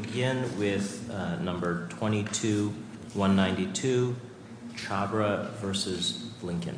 We begin with number 22192, Chhabra v. Blinken.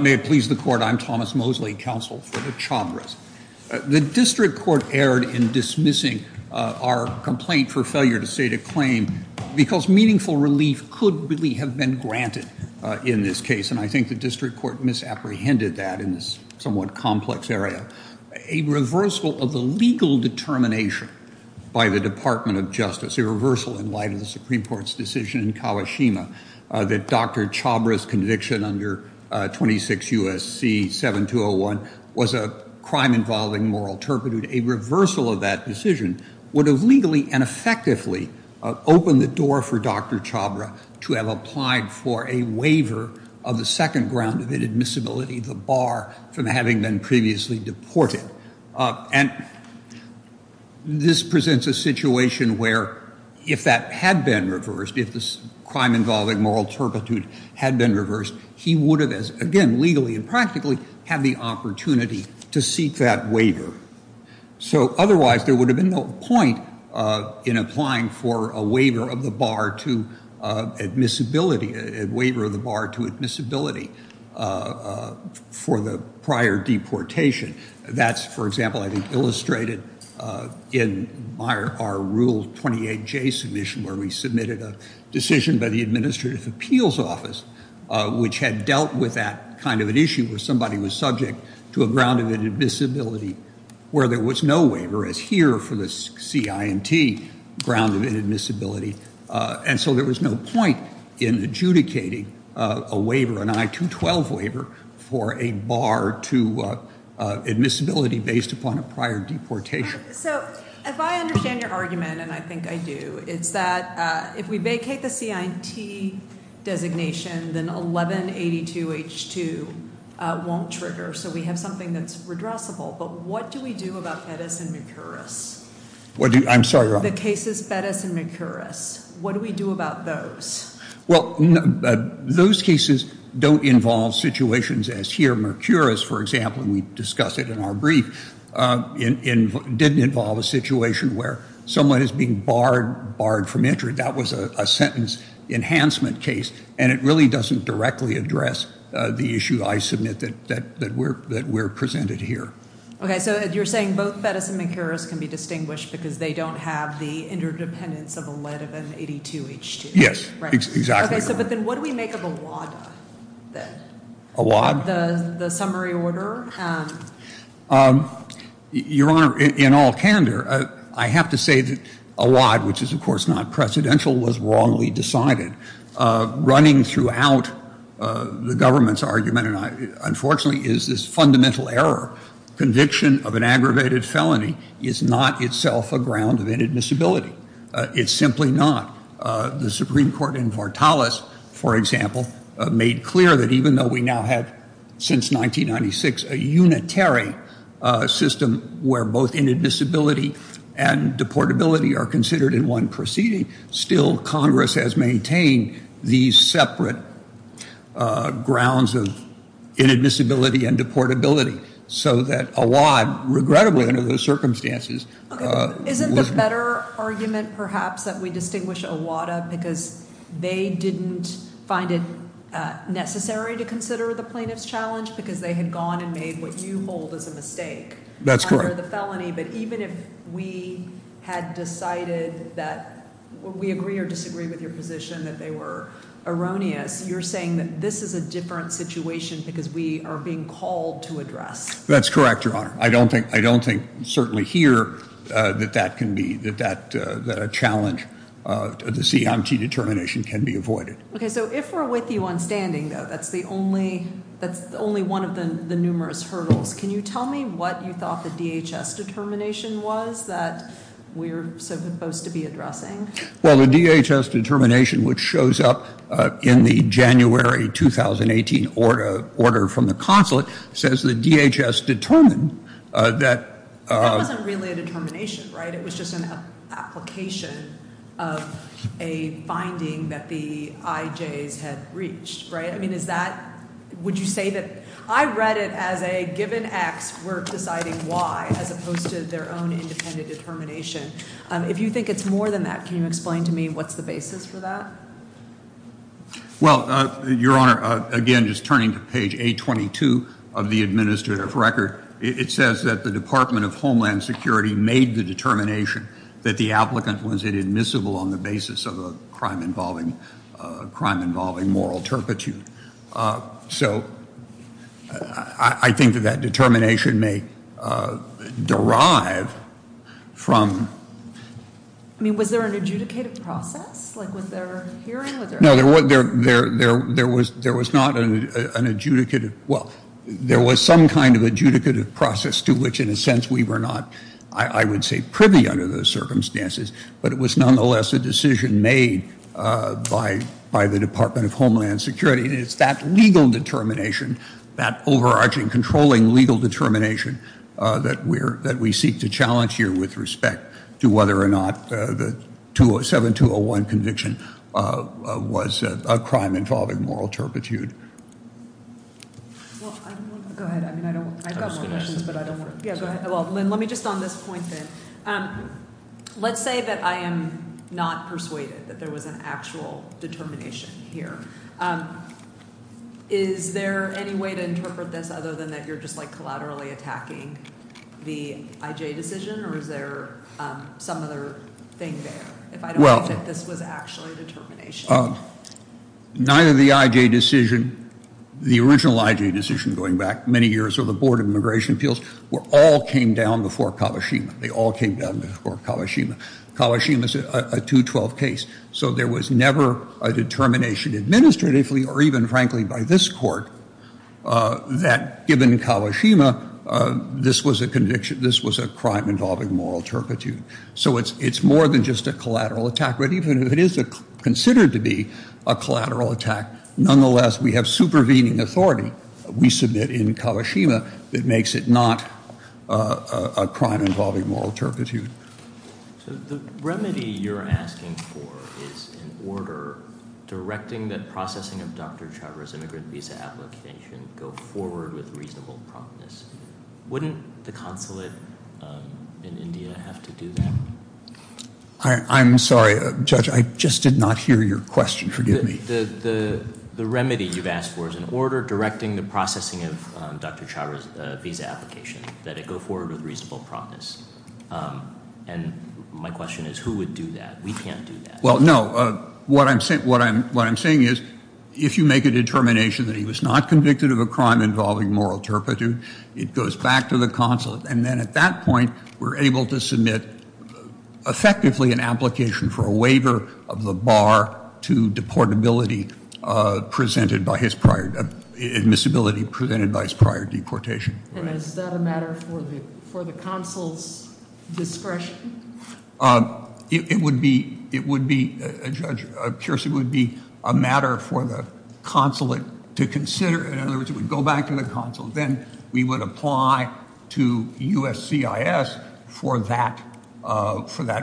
May it please the court, I'm Thomas Mosley, counsel for the Chhabras. The district court erred in dismissing our complaint for failure to state a claim because meaningful relief could really have been granted in this case, and I think the district court misapprehended that in this somewhat complex area. A reversal of the legal determination by the Department of Justice, a reversal in light of the Supreme Court's decision in Kawashima that Dr. Chhabra's conviction under 26 U.S.C. 7201 was a crime involving moral turpitude, a reversal of that decision would have legally and effectively opened the door for Dr. Chhabra to have applied for a waiver of the second ground of inadmissibility, the bar from having been previously deported. And this presents a situation where if that had been reversed, if the crime involving moral turpitude had been reversed, he would have, again, legally and practically had the opportunity to seek that waiver. So otherwise there would have been no point in applying for a waiver of the bar to admissibility, a waiver of the bar to admissibility for the prior deportation. That's, for example, I think illustrated in our Rule 28J submission where we submitted a decision by the Administrative Appeals Office, which had dealt with that kind of an issue where somebody was subject to a ground of inadmissibility where there was no waiver, as here for the CINT, ground of inadmissibility. And so there was no point in adjudicating a waiver, an I-212 waiver, for a bar to admissibility based upon a prior deportation. So if I understand your argument, and I think I do, it's that if we vacate the CINT designation, then 1182H2 won't trigger. So we have something that's redressable. But what do we do about Pettis and Mercouris? I'm sorry, Your Honor. The cases Pettis and Mercouris, what do we do about those? Well, those cases don't involve situations as here. Mercouris, for example, we discussed it in our brief, didn't involve a situation where someone is being barred from entry. That was a sentence enhancement case, and it really doesn't directly address the issue I submit that we're presented here. Okay, so you're saying both Pettis and Mercouris can be distinguished because they don't have the interdependence of 1182H2. Yes, exactly. Okay, so but then what do we make of Awad, then? Awad? The summary order. Your Honor, in all candor, I have to say that Awad, which is of course not presidential, was wrongly decided. Running throughout the government's argument, unfortunately, is this fundamental error. Conviction of an aggravated felony is not itself a ground of inadmissibility. It's simply not. The Supreme Court in Vartalas, for example, made clear that even though we now have since 1996 a unitary system where both inadmissibility and deportability are considered in one proceeding, still Congress has maintained these separate grounds of inadmissibility and deportability so that Awad, regrettably under those circumstances. Isn't the better argument perhaps that we distinguish Awad because they didn't find it necessary to consider the plaintiff's challenge because they had gone and made what you hold as a mistake under the felony? That's correct. But even if we had decided that we agree or disagree with your position, that they were erroneous, you're saying that this is a different situation because we are being called to address. That's correct, Your Honor. I don't think certainly here that a challenge to the CMT determination can be avoided. Okay, so if we're with you on standing, though, that's only one of the numerous hurdles. Can you tell me what you thought the DHS determination was that we're supposed to be addressing? Well, the DHS determination, which shows up in the January 2018 order from the consulate, says the DHS determined that- That wasn't really a determination, right? It was just an application of a finding that the IJs had reached, right? Would you say that- I read it as a given X, we're deciding Y, as opposed to their own independent determination. If you think it's more than that, can you explain to me what's the basis for that? Well, Your Honor, again, just turning to page 822 of the administrative record, it says that the Department of Homeland Security made the determination that the applicant was inadmissible on the basis of a crime involving moral turpitude. So I think that that determination may derive from- I mean, was there an adjudicated process? Like, was there a hearing? No, there was not an adjudicated- But it was nonetheless a decision made by the Department of Homeland Security, and it's that legal determination, that overarching, controlling legal determination, that we seek to challenge here with respect to whether or not the 7201 conviction was a crime involving moral turpitude. Well, I don't want to- Go ahead, I mean, I don't- I've got some questions, but I don't want to- Yeah, go ahead. Well, Lynn, let me just on this point then. Let's say that I am not persuaded that there was an actual determination here. Is there any way to interpret this other than that you're just, like, collaterally attacking the IJ decision, or is there some other thing there, if I don't believe that this was actually a determination? Neither the IJ decision, the original IJ decision going back many years, or the Board of Immigration Appeals, all came down before Kawashima. They all came down before Kawashima. Kawashima is a 212 case, so there was never a determination administratively or even, frankly, by this court that, given Kawashima, this was a crime involving moral turpitude. So it's more than just a collateral attack, but even if it is considered to be a collateral attack, nonetheless we have supervening authority, we submit in Kawashima, that makes it not a crime involving moral turpitude. So the remedy you're asking for is in order, directing that processing of Dr. Chhabra's immigrant visa application go forward with reasonable promptness. Wouldn't the consulate in India have to do that? I'm sorry, Judge, I just did not hear your question. The remedy you've asked for is in order, directing the processing of Dr. Chhabra's visa application that it go forward with reasonable promptness. And my question is who would do that? We can't do that. Well, no. What I'm saying is if you make a determination that he was not convicted of a crime involving moral turpitude, it goes back to the consulate. And then at that point we're able to submit effectively an application for a waiver of the bar to deportability presented by his prior, admissibility presented by his prior deportation. And is that a matter for the consul's discretion? It would be, Judge, of course it would be a matter for the consulate to consider. In other words, it would go back to the consulate. Then we would apply to USCIS for that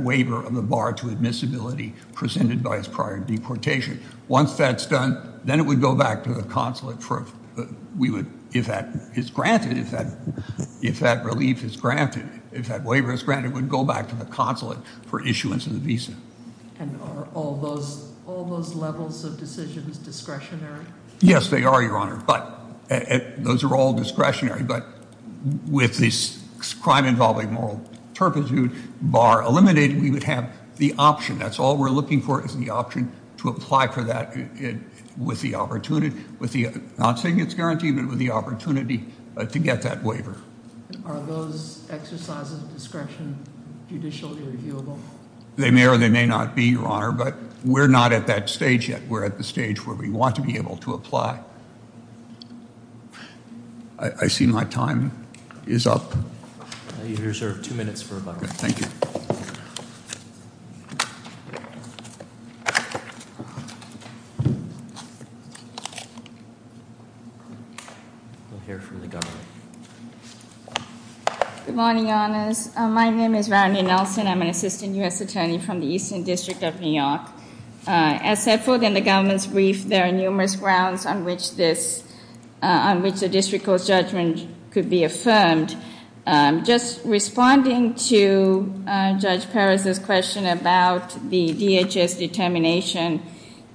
waiver of the bar to admissibility presented by his prior deportation. Once that's done, then it would go back to the consulate. If that is granted, if that relief is granted, if that waiver is granted, it would go back to the consulate for issuance of the visa. And are all those levels of decisions discretionary? Yes, they are, Your Honor. But those are all discretionary. But with this crime involving moral turpitude bar eliminated, we would have the option, that's all we're looking for, is the option to apply for that with the opportunity, not saying it's guaranteed, but with the opportunity to get that waiver. Are those exercises of discretion judicially reviewable? They may or they may not be, Your Honor. But we're not at that stage yet. We're at the stage where we want to be able to apply. I see my time is up. You have two minutes for rebuttal. Thank you. Good morning, Your Honors. My name is Randy Nelson. I'm an assistant U.S. attorney from the Eastern District of New York. As set forth in the government's brief, there are numerous grounds on which the district court's judgment could be affirmed. Just responding to Judge Perez's question about the DHS determination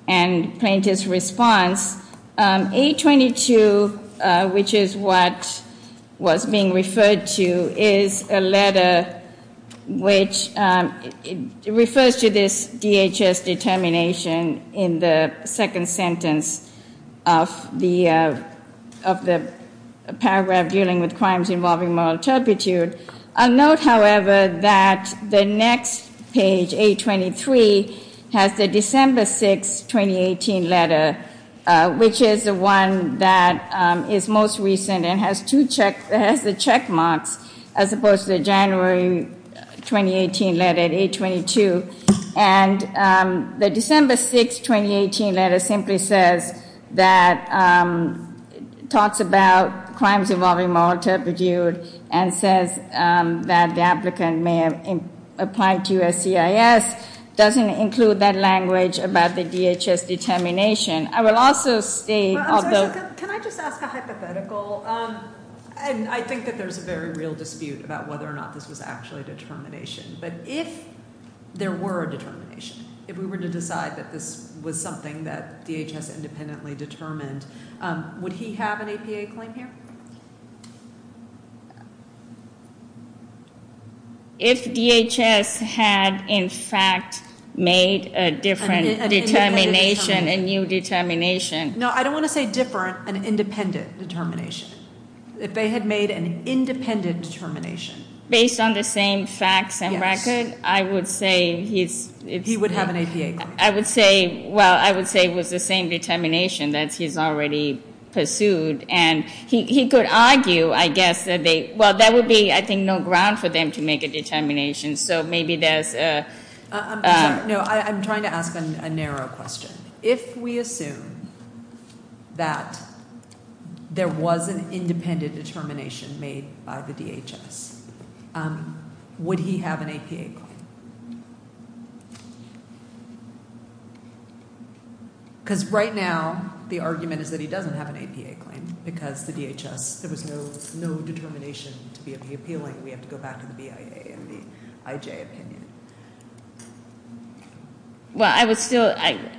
and plaintiff's response, A22, which is what was being referred to, is a letter which refers to this DHS determination in the second sentence of the paragraph dealing with crimes involving moral turpitude. I'll note, however, that the next page, A23, has the December 6, 2018 letter, which is the one that is most recent and has the check marks as opposed to the January 2018 letter, A22. The December 6, 2018 letter simply talks about crimes involving moral turpitude and says that the applicant may have applied to USCIS. It doesn't include that language about the DHS determination. I will also state— Can I just ask a hypothetical? I think that there's a very real dispute about whether or not this was actually a determination. But if there were a determination, if we were to decide that this was something that DHS independently determined, would he have an APA claim here? If DHS had, in fact, made a different determination, a new determination— No, I don't want to say different, an independent determination. If they had made an independent determination— Yes. I would say he's— He would have an APA claim. I would say it was the same determination that he's already pursued. And he could argue, I guess, that they— Well, that would be, I think, no ground for them to make a determination. So maybe there's a— No, I'm trying to ask a narrow question. If we assume that there was an independent determination made by the DHS, would he have an APA claim? Because right now, the argument is that he doesn't have an APA claim because the DHS— There was no determination to be appealing. We have to go back to the BIA and the IJ opinion. Well, I would still—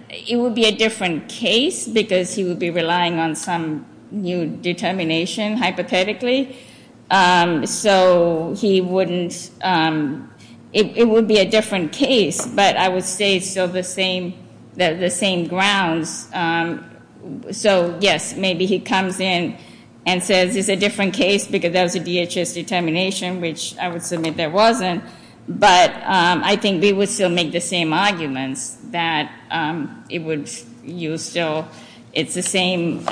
It would be a different case because he would be relying on some new determination, hypothetically. So he wouldn't— It would be a different case. But I would say it's still the same grounds. So, yes, maybe he comes in and says it's a different case because there was a DHS determination, which I would submit there wasn't. But I think they would still make the same arguments that it would— It's the same—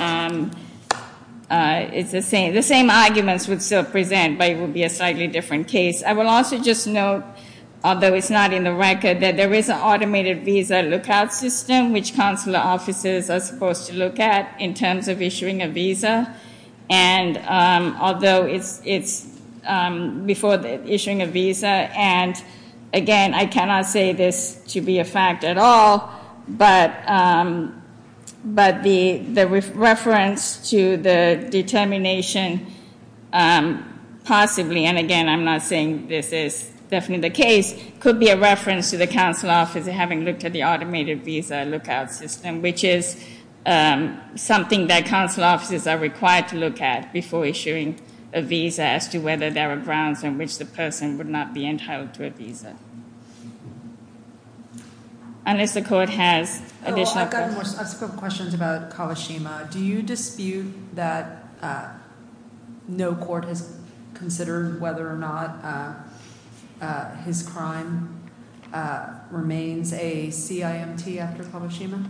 The same arguments would still present, but it would be a slightly different case. I will also just note, although it's not in the record, that there is an automated visa lookout system, which consular offices are supposed to look at in terms of issuing a visa. And although it's before issuing a visa, and, again, I cannot say this to be a fact at all, but the reference to the determination possibly— and, again, I'm not saying this is definitely the case— could be a reference to the consular office having looked at the automated visa lookout system, which is something that consular offices are required to look at before issuing a visa as to whether there are grounds on which the person would not be entitled to a visa. Unless the court has additional— I've got a couple questions about Kawashima. Do you dispute that no court has considered whether or not his crime remains a CIMT after Kawashima?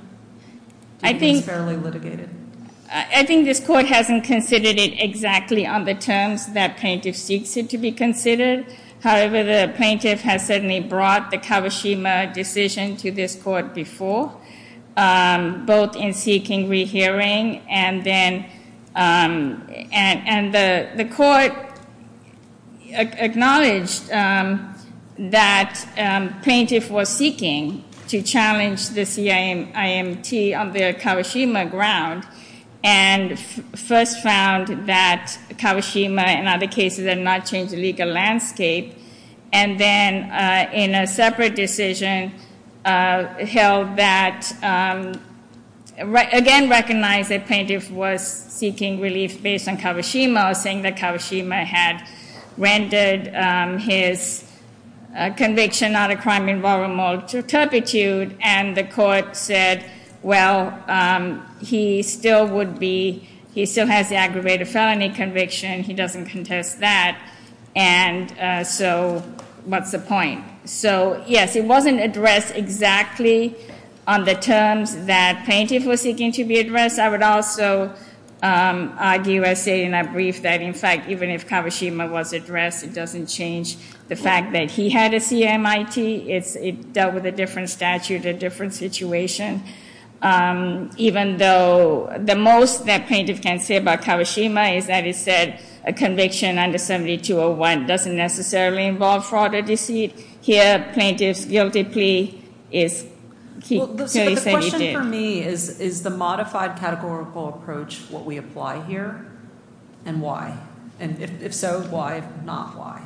Do you think it's fairly litigated? I think this court hasn't considered it exactly on the terms that plaintiff seeks it to be considered. However, the plaintiff has certainly brought the Kawashima decision to this court before, both in seeking rehearing and then— and the court acknowledged that plaintiff was seeking to challenge the CIMT on the Kawashima ground and first found that Kawashima, in other cases, had not changed the legal landscape and then, in a separate decision, held that— again, recognized that plaintiff was seeking relief based on Kawashima or saying that Kawashima had rendered his conviction not a crime in moral turpitude and the court said, well, he still would be—he still has the aggravated felony conviction. He doesn't contest that. And so, what's the point? So, yes, it wasn't addressed exactly on the terms that plaintiff was seeking to be addressed. I would also argue and say in a brief that, in fact, even if Kawashima was addressed, it doesn't change the fact that he had a CIMT. It dealt with a different statute, a different situation, even though the most that plaintiff can say about Kawashima is that he said a conviction under 7201 doesn't necessarily involve fraud or deceit. Here, plaintiff's guilty plea is— But the question for me is, is the modified categorical approach what we apply here and why? And if so, why, if not, why?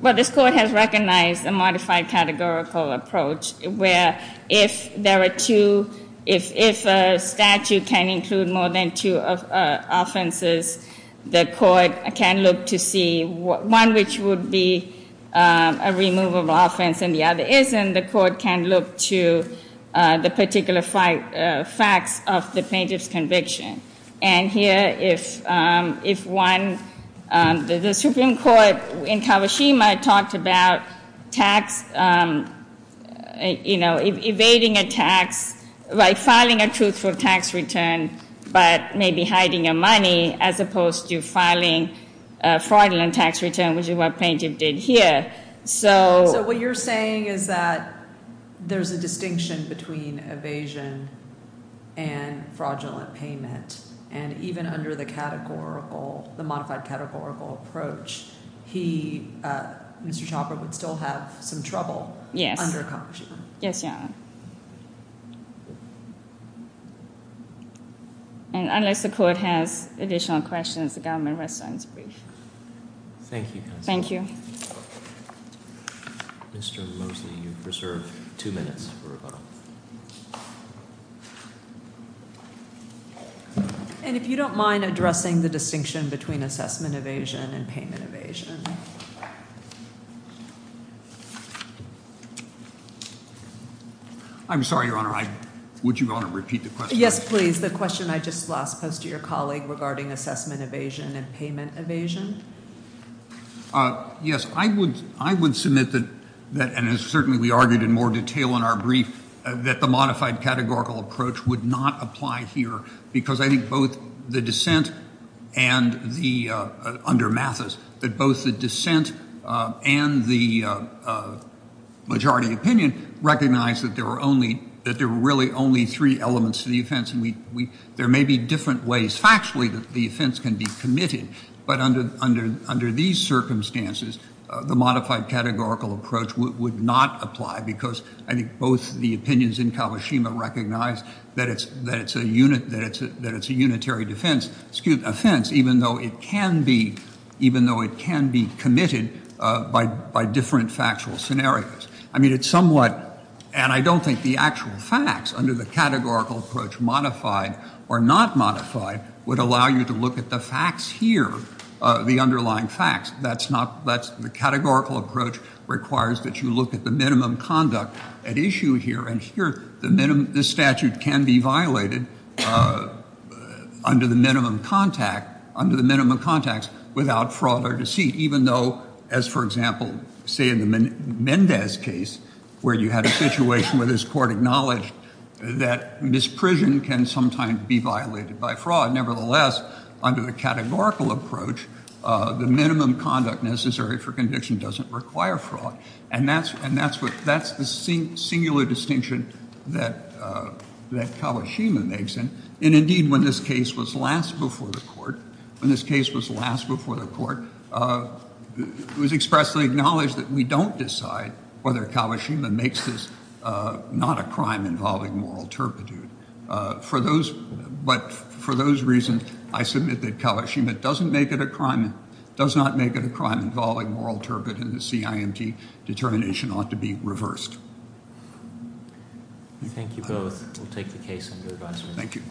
Well, this court has recognized a modified categorical approach where if there are two—if a statute can include more than two offenses, the court can look to see one which would be a removable offense and the other isn't. The court can look to the particular facts of the plaintiff's conviction. And here, if one—the Supreme Court in Kawashima talked about tax, you know, evading a tax, like filing a truthful tax return but maybe hiding your money as opposed to filing a fraudulent tax return, which is what plaintiff did here. So what you're saying is that there's a distinction between evasion and fraudulent payment, and even under the categorical—the modified categorical approach, he, Mr. Chopra, would still have some trouble under Kawashima. Yes, Your Honor. And unless the court has additional questions, the government restarts brief. Thank you, counsel. Thank you. Mr. Mosley, you've preserved two minutes for rebuttal. And if you don't mind addressing the distinction between assessment evasion and payment evasion. I'm sorry, Your Honor. I—would you, Your Honor, repeat the question? I just lost post to your colleague regarding assessment evasion and payment evasion. Yes, I would submit that—and certainly we argued in more detail in our brief— that the modified categorical approach would not apply here because I think both the dissent and the— under Mathis, that both the dissent and the majority opinion recognized that there were only—that there were really only three elements to the offense, and we—there may be different ways factually that the offense can be committed, but under these circumstances, the modified categorical approach would not apply because I think both the opinions in Kawashima recognize that it's a unitary defense—excuse me, offense, even though it can be—even though it can be committed by different factual scenarios. I mean, it's somewhat—and I don't think the actual facts under the categorical approach, modified or not modified, would allow you to look at the facts here, the underlying facts. That's not—the categorical approach requires that you look at the minimum conduct at issue here, and here, the statute can be violated under the minimum contact— under the minimum contacts without fraud or deceit, even though, as for example, say in the Mendez case where you had a situation where this court acknowledged that misprision can sometimes be violated by fraud. Nevertheless, under the categorical approach, the minimum conduct necessary for conviction doesn't require fraud, and that's—and that's what—that's the singular distinction that Kawashima makes, and indeed, when this case was last before the court, when this case was last before the court, it was expressly acknowledged that we don't decide whether Kawashima makes this not a crime involving moral turpitude. For those—but for those reasons, I submit that Kawashima doesn't make it a crime— does not make it a crime involving moral turpitude, and the CIMT determination ought to be reversed. Thank you both. We'll take the case under advisory. Thank you.